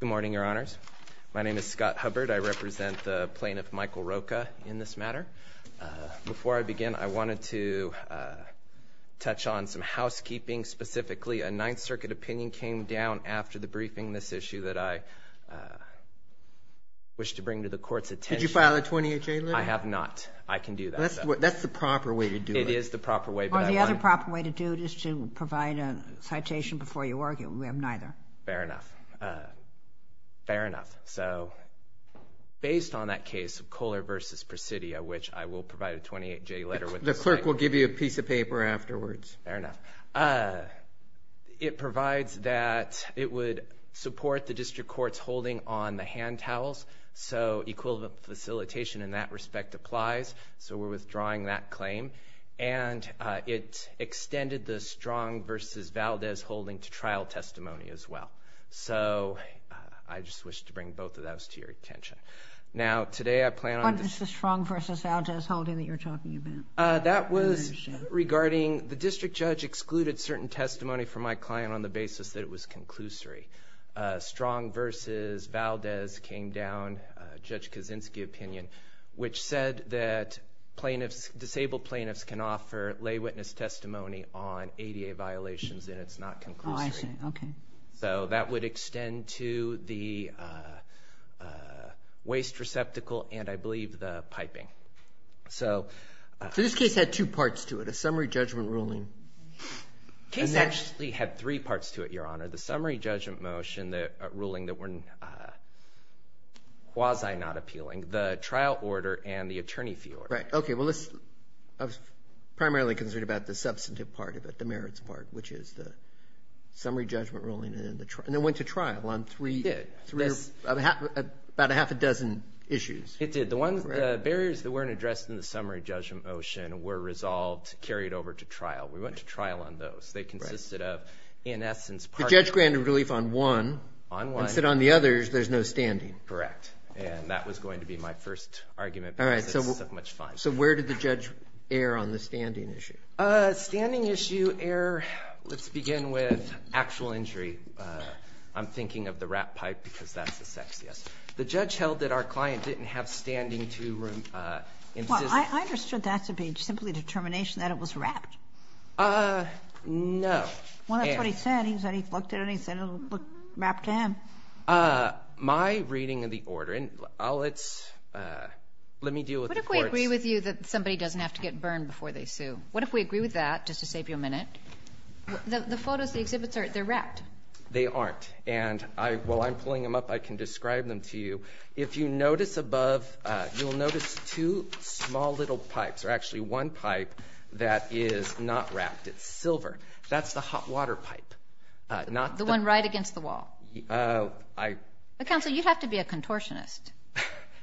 Good morning, Your Honors. My name is Scott Hubbard. I represent the plaintiff, Michael Rocca, in this matter. Before I begin, I wanted to touch on some housekeeping, specifically a Ninth Circuit opinion came down after the briefing. This issue that I wish to bring to the Court's attention. Did you file a 28-J letter? I have not. I can do that. That's the proper way to do it. It is the proper way. The other proper way to do it is to provide a citation before you argue. We have neither. Fair enough. Fair enough. So, based on that case of Kohler v. Presidio, which I will provide a 28-J letter with. The clerk will give you a piece of paper afterwards. Fair enough. It provides that it would support the District Court's holding on the hand towels. So, equivalent facilitation in that respect applies. So, we're withdrawing that claim. And it extended the Strong v. Valdez holding to trial testimony as well. So, I just wish to bring both of those to your attention. Now, today I plan on... What is the Strong v. Valdez holding that you're talking about? That was regarding the District Judge excluded certain testimony from my client on the basis that it was conclusory. Strong v. Valdez came down Judge Kaczynski's opinion, which said that disabled plaintiffs can offer lay witness testimony on ADA violations and it's not conclusory. Oh, I see. Okay. So, that would extend to the waste receptacle and, I believe, the piping. So, this case had two parts to it. A summary judgment ruling. The case actually had three parts to it, Your Honor. The summary judgment motion, the ruling that were quasi not appealing, the trial order, and the attorney fee order. Right. Okay. Well, let's... I was primarily concerned about the substantive part of it, the merits part, which is the summary judgment ruling and then went to trial on three... It did. About a half a dozen issues. It did. The barriers that weren't addressed in the summary judgment motion were resolved, carried over to trial. We went to trial on those. They consisted of, in essence... The judge granted relief on one. On one. And said on the others, there's no standing. Correct. And that was going to be my first argument because it's so much fun. All right. So, where did the judge err on the standing issue? Standing issue err... Let's begin with actual injury. I'm thinking of the rat pipe because that's the sexiest. The judge held that our client didn't have standing to... Well, I understood that to be simply determination that it was wrapped. No. Well, that's what he said. He said he looked at it and he said it looked wrapped to him. My reading of the order, and I'll... Let's... Let me deal with the court's... What if we agree with you that somebody doesn't have to get burned before they sue? What if we agree with that, just to save you a minute? The photos, the exhibits, they're wrapped. They aren't. And while I'm pulling them up, I can describe them to you. If you notice above, you'll notice two small little pipes, or actually one pipe that is not wrapped. It's silver. That's the hot water pipe. Not... The one right against the wall. I... Counsel, you'd have to be a contortionist.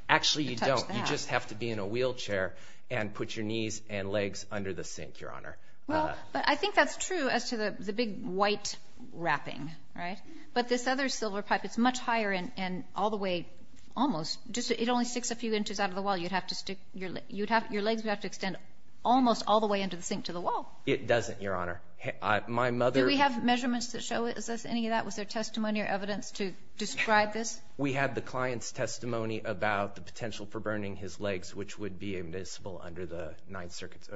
Actually, you don't. You just have to be in a wheelchair and put your knees and legs under the sink, Your Honor. Well, but I think that's true as to the big white wrapping, right? But this other silver pipe, it's much higher and all the way... Almost. Just... It only sticks a few inches out of the wall. You'd have to stick your... You'd have... Your legs would have to extend almost all the way into the sink to the wall. It doesn't, Your Honor. I... My mother... Do we have measurements that show it? Is this any of that? Was there testimony or evidence to describe this? We had the client's testimony about the potential for burning his legs, which would be admissible under the Ninth Circuit...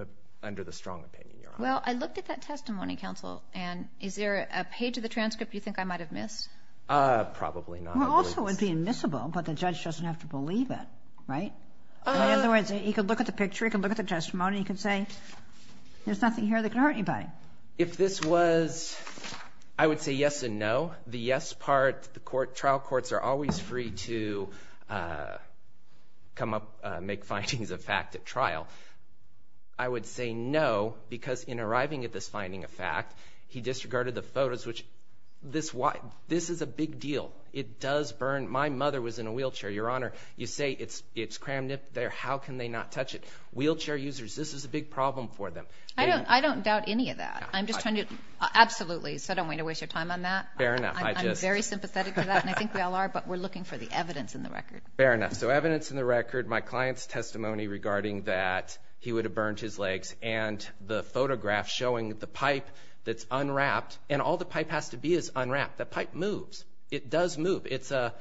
Under the strong opinion, Your Honor. Well, I looked at that testimony, Counsel, and is there a page of the transcript you think I might have missed? Probably not. Well, also it would be admissible, but the judge doesn't have to believe it, right? In other words, he could look at the picture, he could look at the testimony, he could say, there's nothing here that could hurt anybody. If this was... I would say yes and no. The yes part, the court... Trial courts are always free to come up, make findings of fact at trial. I would say no, because in arriving at this finding of fact, he disregarded the photos, which... This is a big deal. It does burn. My mother was in a wheelchair, Your Honor. You say it's crammed up there, how can they not touch it? Wheelchair users, this is a big problem for them. I don't doubt any of that. I'm just trying to... Absolutely. So I don't want to waste your time on that. Fair enough. I'm very sympathetic to that, and I think we all are, but we're looking for the evidence in the record. Fair enough. So evidence in the record, my client's testimony regarding that he would have burned his legs, and the photograph showing the pipe that's unwrapped, and all the pipe has to be is unwrapped. The pipe moves. It does move. It's a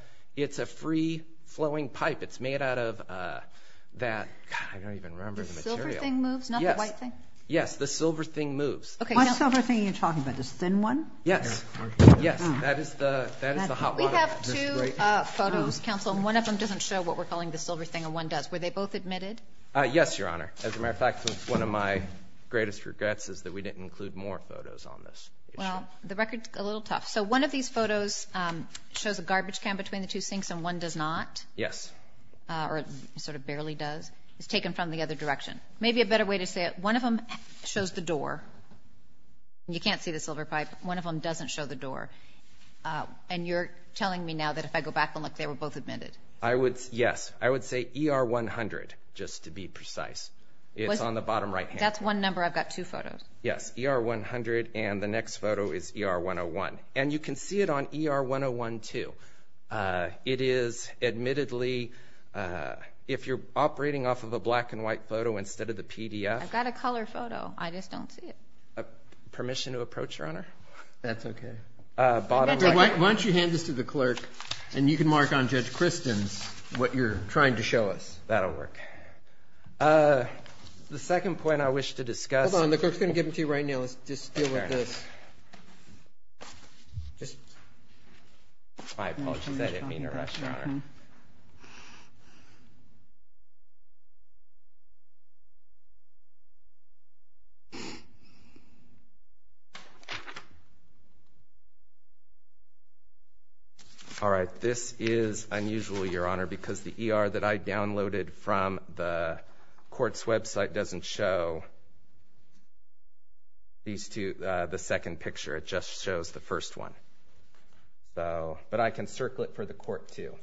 free-flowing pipe. It's made out of that... God, I don't even remember the material. The silver thing moves, not the white thing? Yes, the silver thing moves. What silver thing are you talking about? The thin one? Yes. Yes, that is the hot one. We have two photos, counsel, and one of them doesn't show what we're calling the silver thing, and one does. Were they both admitted? Yes, Your Honor. As a matter of fact, one of my greatest regrets is that we didn't include more photos on this. Well, the record's a little tough. So one of these photos shows a garbage can between the two sinks, and one does not. Yes. Or sort of barely does. It's taken from the other direction. Maybe a better way to say it. One of them shows the door. You can't see the silver pipe. One of them doesn't show the door, and you're telling me now that if I go back and look, they were both admitted. I would, yes. I would say ER 100, just to be precise. It's on the bottom right here. That's one number. I've got two photos. Yes, ER 100, and the next photo is ER 101, and you can see it on ER 101 too. It is admittedly, if you're operating off of a black and white photo instead of the PDF. I've got a color photo. I just don't see it. Permission to approach, Your Honor? That's okay. Why don't you hand this to the clerk, and you can mark on Judge Kristen's what you're trying to show us. That'll work. The second point I wish to discuss. Hold on. The clerk's going to give it to you right now. Let's just deal with this. My apologies. I didn't mean to rush, Your Honor. All right. This is unusual, Your Honor, because the ER that I downloaded from the court's website doesn't show these two, the second picture. It just shows the first one. But I can circle it for the court too.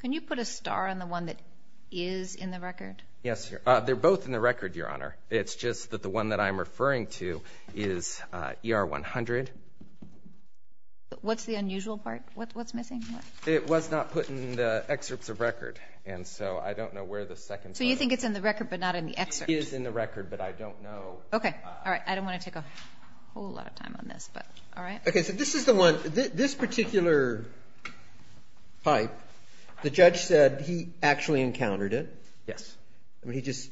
Can you put a star on the one that is in the record? Yes. They're both in the record, Your Honor. It's just that the one that I'm referring to is ER 100. What's the unusual part? What's missing? It was not put in the excerpts of record, and so I don't know where the second one is. So you think it's in the record but not in the excerpt? It is in the record, but I don't know. Okay. All right. I don't want to take a whole lot of time on this, but all right. Okay. So this is the one. This particular pipe, the judge said he actually encountered it. Yes. I mean, he just,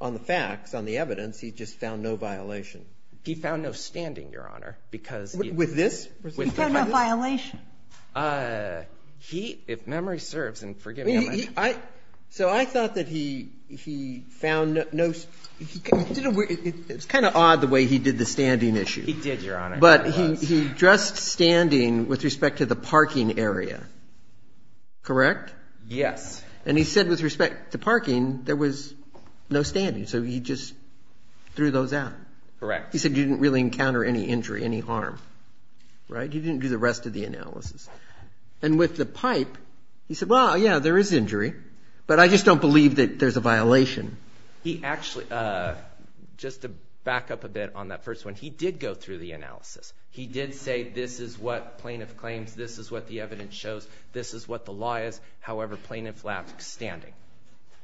on the facts, on the evidence, he just found no violation. He found no standing, Your Honor, because he- With this? He found no violation. He, if memory serves, and forgive me, I might- So I thought that he found no- It's kind of odd the way he did the standing issue. He did, Your Honor. But he dressed standing with respect to the parking area. Correct? Yes. And he said with respect to parking, there was no standing, so he just threw those out. Correct. He said he didn't really encounter any injury, any harm. Right? He didn't do the rest of the analysis. And with the pipe, he said, well, yeah, there is injury, but I just don't believe that there's a violation. He actually- Just to back up a bit on that first one, he did go through the analysis. He did say this is what plaintiff claims, this is what the evidence shows, this is what the law is. However, plaintiff left standing.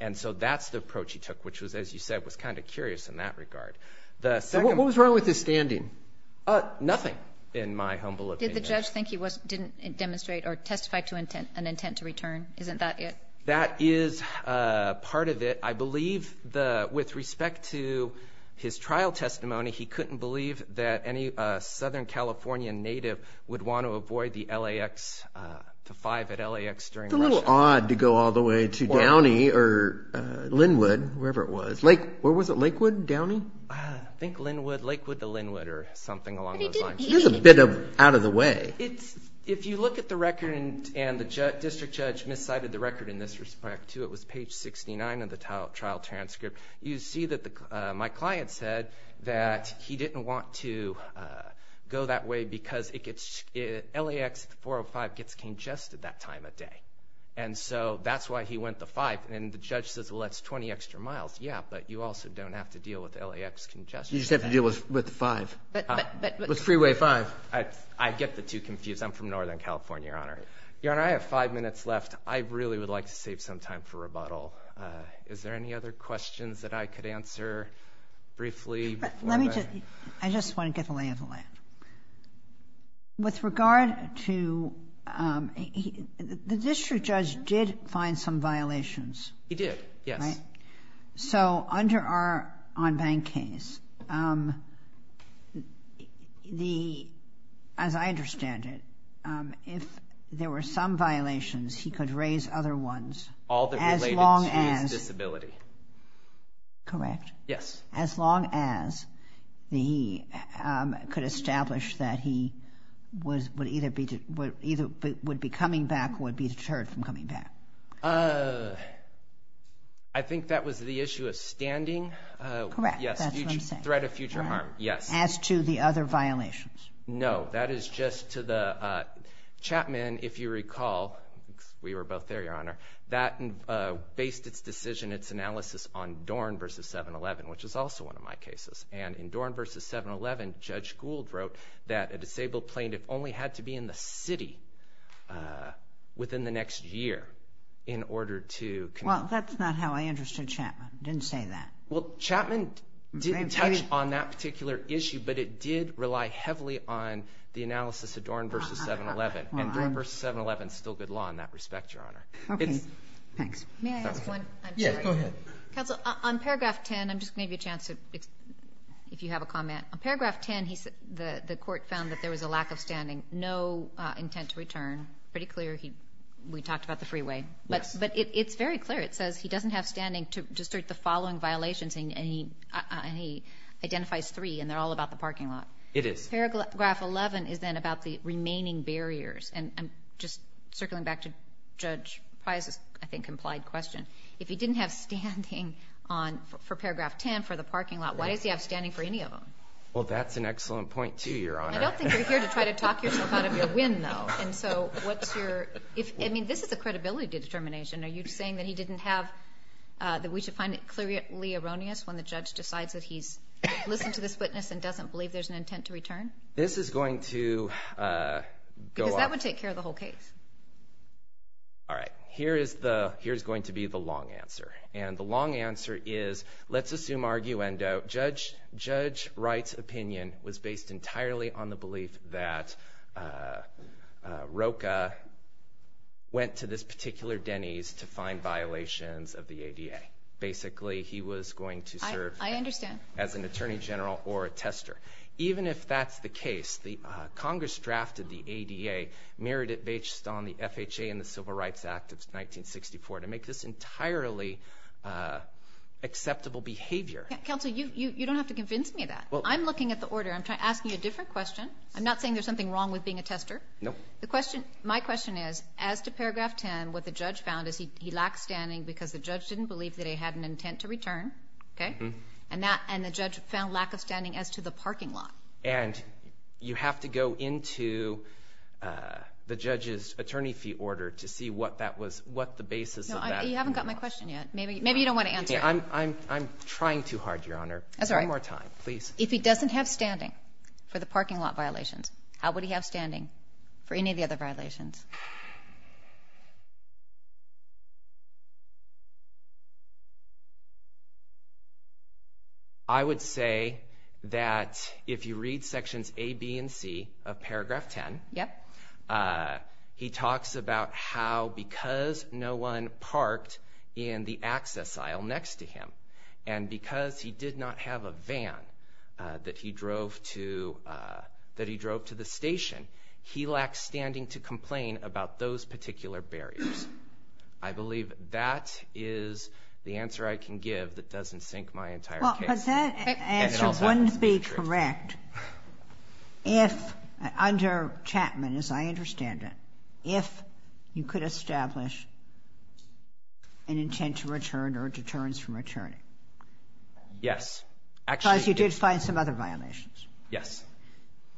And so that's the approach he took, which was, as you said, was kind of curious in that regard. What was wrong with his standing? Nothing, in my humble opinion. Did the judge think he didn't demonstrate or testify to an intent to return? Isn't that it? That is part of it. I believe with respect to his trial testimony, he couldn't believe that any Southern California native would want to avoid the LAX, the five at LAX during- It's a little odd to go all the way to Downey or Linwood, wherever it was. Where was it, Lakewood, Downey? I think Linwood, Lakewood to Linwood or something along those lines. It is a bit out of the way. If you look at the record, and the district judge miscited the record in this respect too, it was page 69 of the trial transcript. You see that my client said that he didn't want to go that way because LAX 405 gets congested that time of day. And so that's why he went the five. And the judge says, well, that's 20 extra miles. Yeah, but you also don't have to deal with LAX congestion. You just have to deal with the five. With freeway five. I get the two confused. I'm from Northern California, Your Honor. Your Honor, I have five minutes left. I really would like to save some time for rebuttal. Is there any other questions that I could answer briefly before I- Let me just- I just want to get the lay of the land. With regard to- the district judge did find some violations. He did, yes. So under our on-bank case, as I understand it, if there were some violations, he could raise other ones as long as- All that related to his disability. Correct. Yes. As long as he could establish that he would either be coming back or would be deterred from coming back. I think that was the issue of standing. Correct, that's what I'm saying. Yes, threat of future harm. Yes. As to the other violations. No, that is just to the- Chapman, if you recall, we were both there, Your Honor, that based its decision, its analysis on Dorn versus 7-11, which is also one of my cases. And in Dorn versus 7-11, Judge Gould wrote that a disabled plaintiff only had to be in the city within the next year in order to- Well, that's not how I understood Chapman. Didn't say that. Well, Chapman didn't touch on that particular issue, but it did rely heavily on the analysis of Dorn versus 7-11. And Dorn versus 7-11 is still good law in that respect, Your Honor. Okay, thanks. May I ask one? Yes, go ahead. Counsel, on paragraph 10, I'm just going to give you a chance if you have a comment. On paragraph 10, the court found that there was a lack of standing, no intent to return. Pretty clear. We talked about the freeway. Yes. But it's very clear. It says he doesn't have standing to assert the following violations, and he identifies three, and they're all about the parking lot. It is. Paragraph 11 is then about the remaining barriers. And I'm just circling back to Judge Pryor's, I think, implied question. If he didn't have standing for paragraph 10 for the parking lot, why does he have standing for any of them? Well, that's an excellent point, too, Your Honor. I don't think you're here to try to talk yourself out of your win, though. And so what's your – I mean, this is a credibility determination. Are you saying that he didn't have – that we should find it clearly erroneous when the judge decides that he's listened to this witness and doesn't believe there's an intent to return? This is going to go up. Because that would take care of the whole case. All right. Here is the – here is going to be the long answer. And the long answer is let's assume arguendo. Judge Wright's opinion was based entirely on the belief that Rocha went to this particular Denny's to find violations of the ADA. Basically, he was going to serve as an attorney general or a tester. Even if that's the case, Congress drafted the ADA, mirrored it based on the FHA and the Civil Rights Act of 1964, to make this entirely acceptable behavior. Counsel, you don't have to convince me of that. I'm looking at the order. I'm asking you a different question. I'm not saying there's something wrong with being a tester. No. My question is, as to paragraph 10, what the judge found is he lacked standing because the judge didn't believe that he had an intent to return. Okay? And the judge found lack of standing as to the parking lot. And you have to go into the judge's attorney fee order to see what that was – what the basis of that was. You haven't got my question yet. Maybe you don't want to answer it. I'm trying too hard, Your Honor. That's all right. One more time, please. If he doesn't have standing for the parking lot violations, how would he have standing for any of the other violations? I would say that if you read sections A, B, and C of paragraph 10, he talks about how because no one parked in the access aisle next to him and because he did not have a van that he drove to the station, he lacked standing to complain about those particular barriers. I believe that is the answer I can give that doesn't sink my entire case. But that answer wouldn't be correct if – under Chapman, as I understand it – if you could establish an intent to return or a deterrence from returning. Yes. Because you did find some other violations. Yes.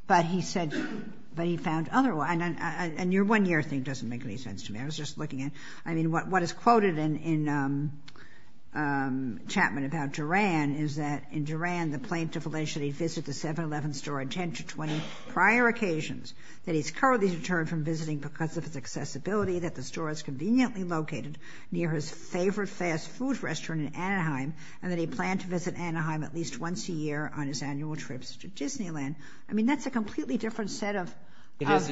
But he said – but he found other – and your one-year thing doesn't make any sense to me. I was just looking at – I mean, what is quoted in Chapman about Duran is that in Duran, the plaintiff alleged that he visited the 7-Eleven store on 10 to 20 prior occasions, that he's currently deterred from visiting because of his accessibility, that the store is conveniently located near his favorite fast food restaurant in Anaheim, and that he planned to visit Anaheim at least once a year on his annual trips to Disneyland. I mean, that's a completely different set of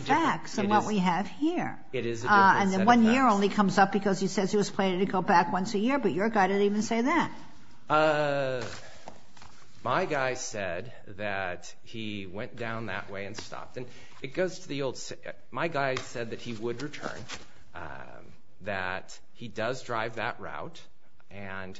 facts than what we have here. It is a different set of facts. And then one year only comes up because he says he was planning to go back once a year, but your guy didn't even say that. My guy said that he went down that way and stopped. And it goes to the old – my guy said that he would return, that he does drive that route, and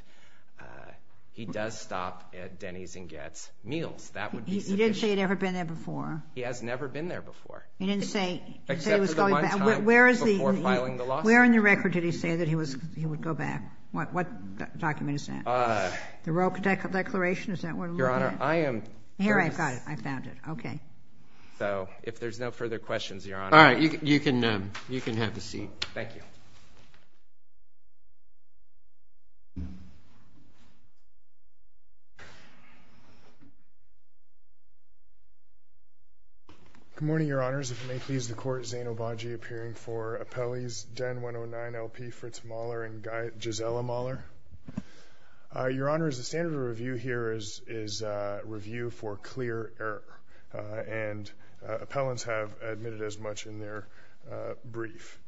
he does stop at Denny's and gets meals. That would be sufficient. He didn't say he'd ever been there before. He has never been there before. He didn't say he was going back. Except for the one time before filing the lawsuit. Where in the record did he say that he would go back? What document is that? The Royal Declaration? Is that where to look at? Your Honor, I am – Here, I've got it. I found it. Okay. So if there's no further questions, Your Honor. All right. You can have the seat. Thank you. Good morning, Your Honors. If it may please the Court, Zane Obagi appearing for appellees, Den 109LP, Fritz Mahler, and Gisela Mahler. Your Honors, the standard of review here is review for clear error. And appellants have admitted as much in their brief.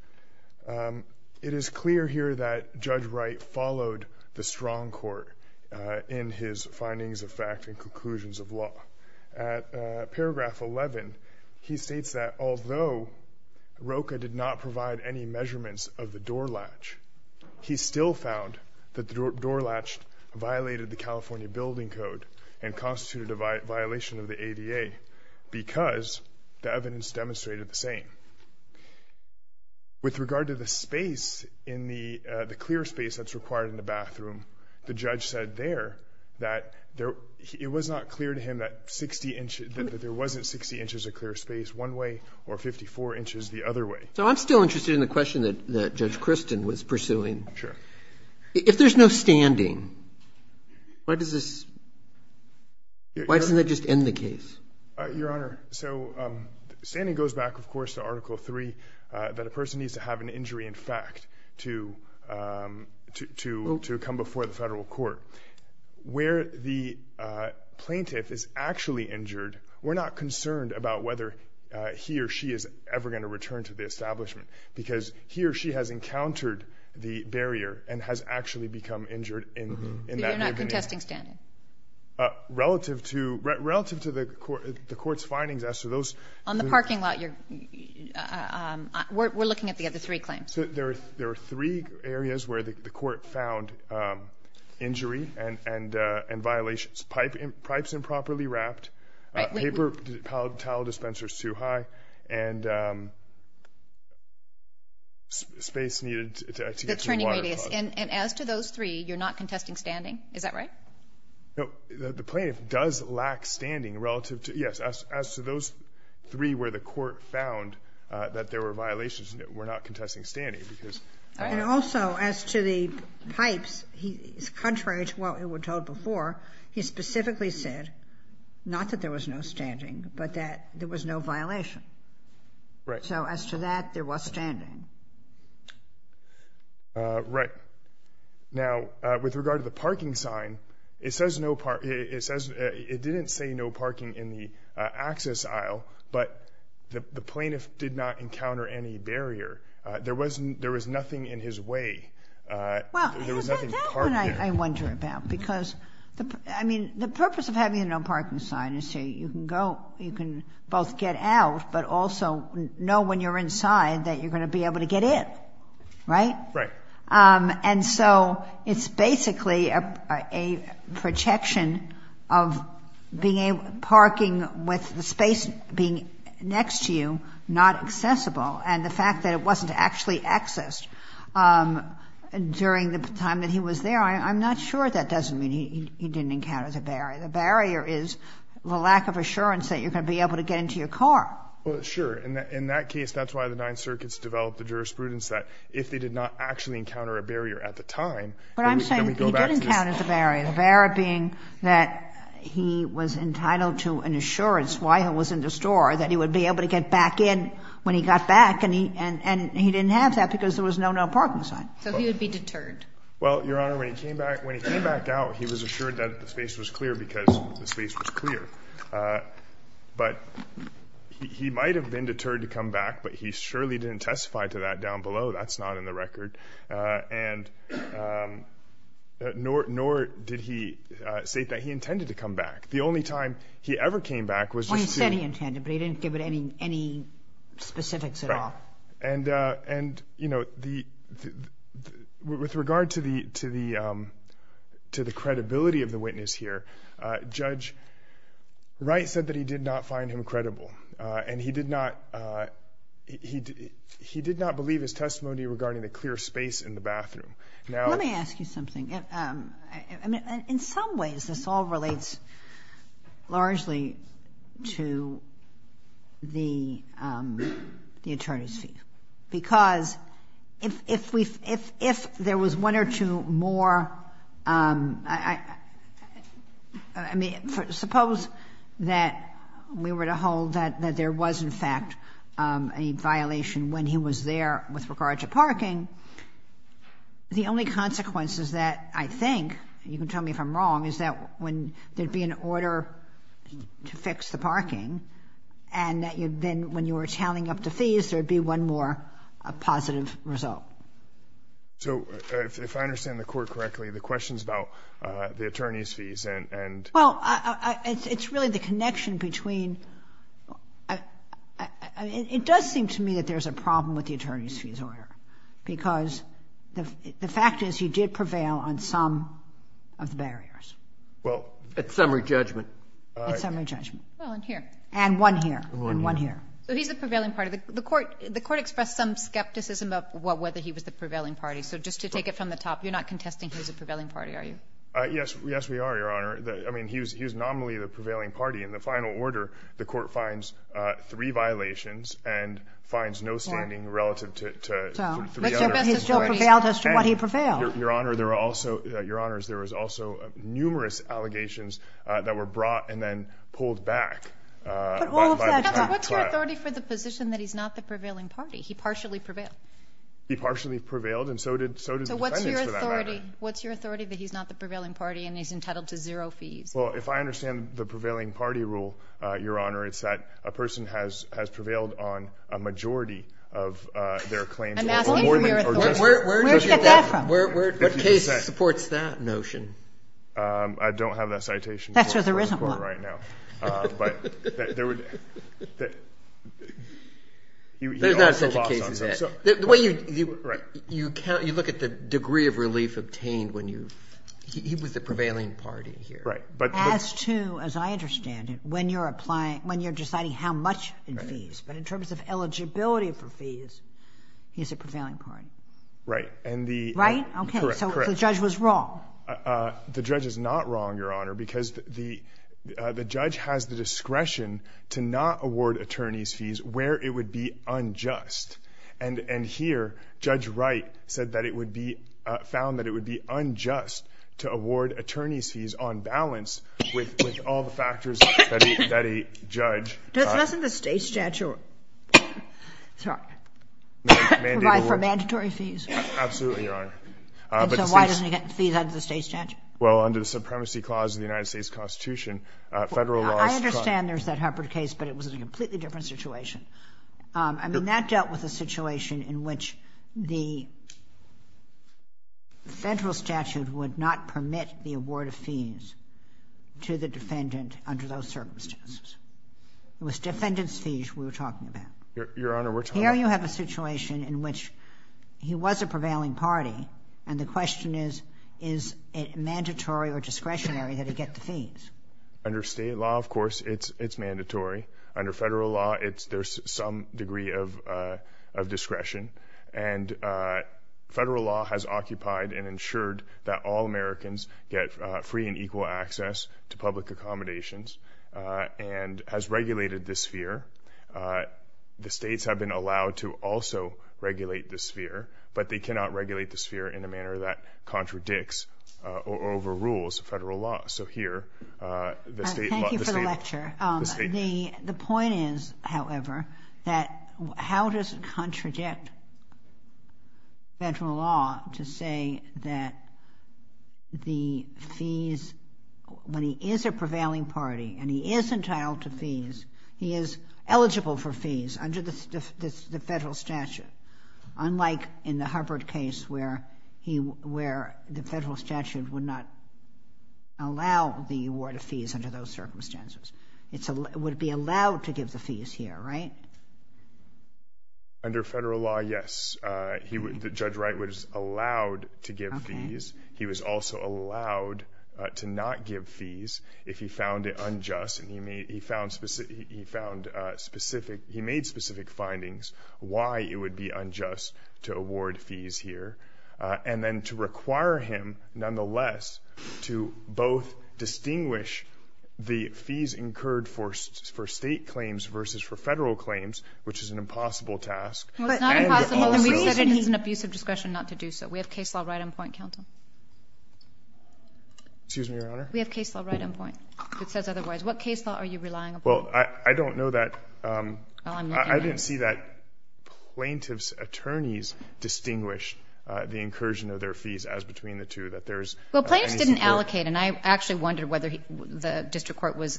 It is clear here that Judge Wright followed the strong court in his findings of fact and conclusions of law. At paragraph 11, he states that although ROCA did not provide any measurements of the door latch, he still found that the door latch violated the California Building Code and constituted a violation of the ADA because the evidence demonstrated the same. With regard to the space in the – the clear space that's required in the bathroom, the judge said there that there – it was not clear to him that 60 inches – that there wasn't 60 inches of clear space one way or 54 inches the other way. So I'm still interested in the question that Judge Christin was pursuing. Sure. If there's no standing, why does this – why doesn't that just end the case? Your Honor, so standing goes back, of course, to Article III, that a person needs to have an injury in fact to come before the federal court. Where the plaintiff is actually injured, we're not concerned about whether he or she is ever going to return to the establishment because he or she has encountered the barrier and has actually become injured in that way. So you're not contesting standing? Relative to the court's findings as to those... On the parking lot, you're – we're looking at the other three claims. So there are three areas where the court found injury and violations. Pipe is improperly wrapped. Paper – towel dispenser is too high. And space needed to get to the water... The turning radius. And as to those three, you're not contesting standing. Is that right? No. The plaintiff does lack standing relative to – yes. As to those three where the court found that there were violations, we're not contesting standing because... And also as to the pipes, contrary to what we were told before, he specifically said not that there was no standing but that there was no violation. Right. So as to that, there was standing. Right. Now, with regard to the parking sign, it says no – it says – it didn't say no parking in the access aisle, but the plaintiff did not encounter any barrier. There was nothing in his way. There was nothing parked there. That's what I wonder about because, I mean, the purpose of having a no parking sign is so you can go – you can both get out but also know when you're inside that you're going to be able to get in. Right? Right. And so it's basically a projection of being able – parking with the space being next to you not accessible and the fact that it wasn't actually accessed during the time that he was there, I'm not sure that doesn't mean he didn't encounter the barrier. The barrier is the lack of assurance that you're going to be able to get into your car. Well, sure. In that case, that's why the Ninth Circuit's developed the jurisprudence that if they did not actually encounter a barrier at the time, then we go back to this. But I'm saying he did encounter the barrier, the barrier being that he was entitled to an assurance while he was in the store that he would be able to get back in when he got back and he didn't have that because there was no no parking sign. So he would be deterred. Well, Your Honor, when he came back out, he was assured that the space was clear because the space was clear. But he might have been deterred to come back, but he surely didn't testify to that down below. That's not in the record. And nor did he state that he intended to come back. The only time he ever came back was just to see. Well, he said he intended, but he didn't give any specifics at all. Right. And, you know, with regard to the credibility of the witness here, Judge Wright said that he did not find him credible, and he did not believe his testimony regarding the clear space in the bathroom. Let me ask you something. I mean, in some ways this all relates largely to the attorney's fee because if there was one or two more, I mean, suppose that we were to hold that there was, in fact, a violation when he was there with regard to parking, the only consequences that I think, and you can tell me if I'm wrong, is that when there would be an order to fix the parking and then when you were tallying up the fees, there would be one more positive result. So if I understand the Court correctly, the question is about the attorney's fees. Well, it's really the connection between — It does seem to me that there's a problem with the attorney's fees order because the fact is he did prevail on some of the barriers. Well, at summary judgment. At summary judgment. Well, and here. And one here. And one here. So he's the prevailing party. The Court expressed some skepticism about whether he was the prevailing party. So just to take it from the top, you're not contesting he's a prevailing party, are you? Yes, we are, Your Honor. I mean, he was nominally the prevailing party. In the final order, the Court finds three violations and finds no standing relative to three other authorities. So he still prevailed as to what he prevailed. Your Honor, there were also numerous allegations that were brought and then pulled back by the client. What's your authority for the position that he's not the prevailing party? He partially prevailed. He partially prevailed and so did the defendants for that matter. So what's your authority that he's not the prevailing party and he's entitled to zero fees? Well, if I understand the prevailing party rule, Your Honor, it's that a person has prevailed on a majority of their claims. I'm asking for your authority. Where did you get that from? What case supports that notion? I don't have that citation. That's where there isn't one. But there would be. There's not such a case as that. The way you count, you look at the degree of relief obtained when you – he was the prevailing party here. As to, as I understand it, when you're deciding how much in fees. But in terms of eligibility for fees, he's the prevailing party. Right. Right? Okay. So the judge was wrong. The judge is not wrong, Your Honor, because the judge has the discretion to not award attorney's fees where it would be unjust. And here, Judge Wright said that it would be – found that it would be unjust to award attorney's fees on balance with all the factors that a judge – Doesn't the state statute provide for mandatory fees? Absolutely, Your Honor. And so why doesn't he get fees under the state statute? Well, under the Supremacy Clause of the United States Constitution, federal laws – I understand there's that Huppert case, but it was a completely different situation. I mean, that dealt with a situation in which the federal statute would not permit the award of fees to the defendant under those circumstances. It was defendant's fees we were talking about. Your Honor, which – Here you have a situation in which he was a prevailing party, and the question is, is it mandatory or discretionary that he get the fees? Under state law, of course, it's mandatory. Under federal law, there's some degree of discretion. And federal law has occupied and ensured that all Americans get free and equal access to public accommodations and has regulated this fear. The states have been allowed to also regulate this fear, but they cannot regulate this fear in a manner that contradicts or overrules federal law. So here, the state – Thank you for the lecture. The point is, however, that how does it contradict federal law to say that the fees – when he is a prevailing party and he is entitled to fees, he is eligible for fees under the federal statute, unlike in the Huppert case where the federal statute would not allow the award of fees under those circumstances. It would be allowed to give the fees here, right? Under federal law, yes. He would – Judge Wright was allowed to give fees. He was also allowed to not give fees if he found it unjust. And he made – he found specific – he found specific – he made specific findings why it would be unjust to award fees here. And then to require him, nonetheless, to both distinguish the fees incurred for state claims versus for federal claims, which is an impossible task. Well, it's not impossible. And we said it is an abusive discretion not to do so. We have case law right on point, counsel. Excuse me, Your Honor? We have case law right on point. If it says otherwise, what case law are you relying upon? Well, I don't know that – Well, I'm looking at it. I didn't see that plaintiff's attorneys distinguished the incursion of their fees as between the two, that there is – Well, plaintiffs didn't allocate. And I actually wondered whether the district court was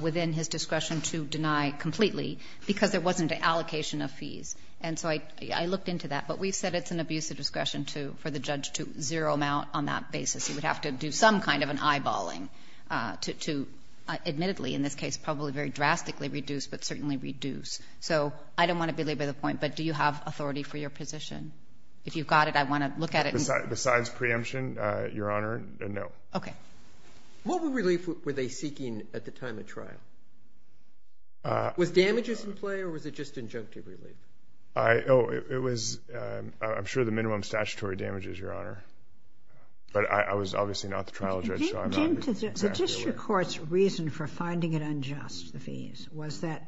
within his discretion to deny completely, because there wasn't an allocation of fees. And so I looked into that. But we said it's an abusive discretion to – for the judge to zero him out on that basis. He would have to do some kind of an eyeballing to admittedly, in this case, probably very drastically reduce, but certainly reduce. So I don't want to belabor the point, but do you have authority for your position? If you've got it, I want to look at it. Besides preemption, Your Honor, no. Okay. What relief were they seeking at the time of trial? Was damages in play or was it just injunctive relief? But I was obviously not the trial judge, so I'm not – Jim, the district court's reason for finding it unjust, the fees, was that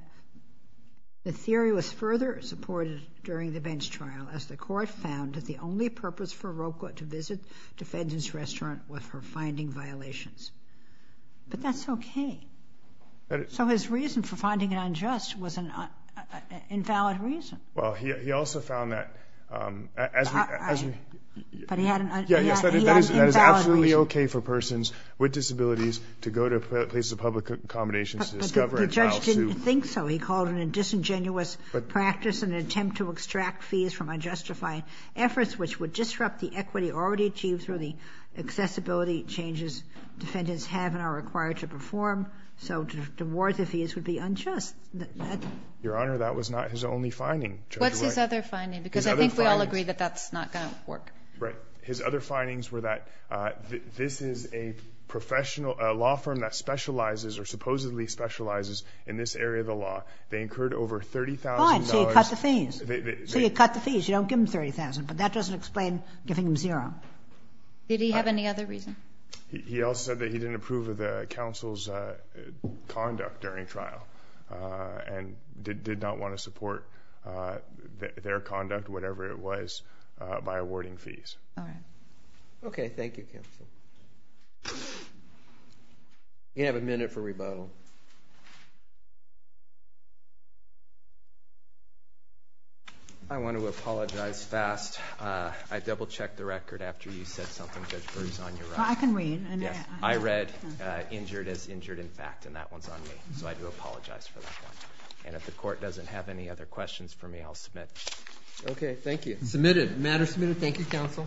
the theory was further supported during the bench trial, as the court found that the only purpose for Roqua to visit the defendant's restaurant was for finding violations. But that's okay. So his reason for finding it unjust was an invalid reason. Well, he also found that as we – But he had an – he had an invalid reason. Yes, that is absolutely okay for persons with disabilities to go to places of public accommodations to discover a trial suit. But the judge didn't think so. He called it a disingenuous practice and an attempt to extract fees from unjustified efforts, which would disrupt the equity already achieved through the accessibility changes defendants have and are required to perform. So to reward the fees would be unjust. Your Honor, that was not his only finding. What's his other finding? Because I think we all agree that that's not going to work. Right. His other findings were that this is a professional – a law firm that specializes or supposedly specializes in this area of the law. They incurred over $30,000. Fine. So you cut the fees. So you cut the fees. You don't give them $30,000. But that doesn't explain giving them zero. Did he have any other reason? He also said that he didn't approve of the counsel's conduct during trial and did not want to support their conduct, whatever it was, by awarding fees. All right. Okay. Thank you, counsel. You have a minute for rebuttal. I want to apologize fast. I double-checked the record after you said something. Judge Berg is on your right. Well, I can read. Yes. I read injured as injured in fact, and that one's on me. So I do apologize for that one. And if the court doesn't have any other questions for me, I'll submit. Okay. Thank you. Submitted. The matter is submitted. Thank you, counsel.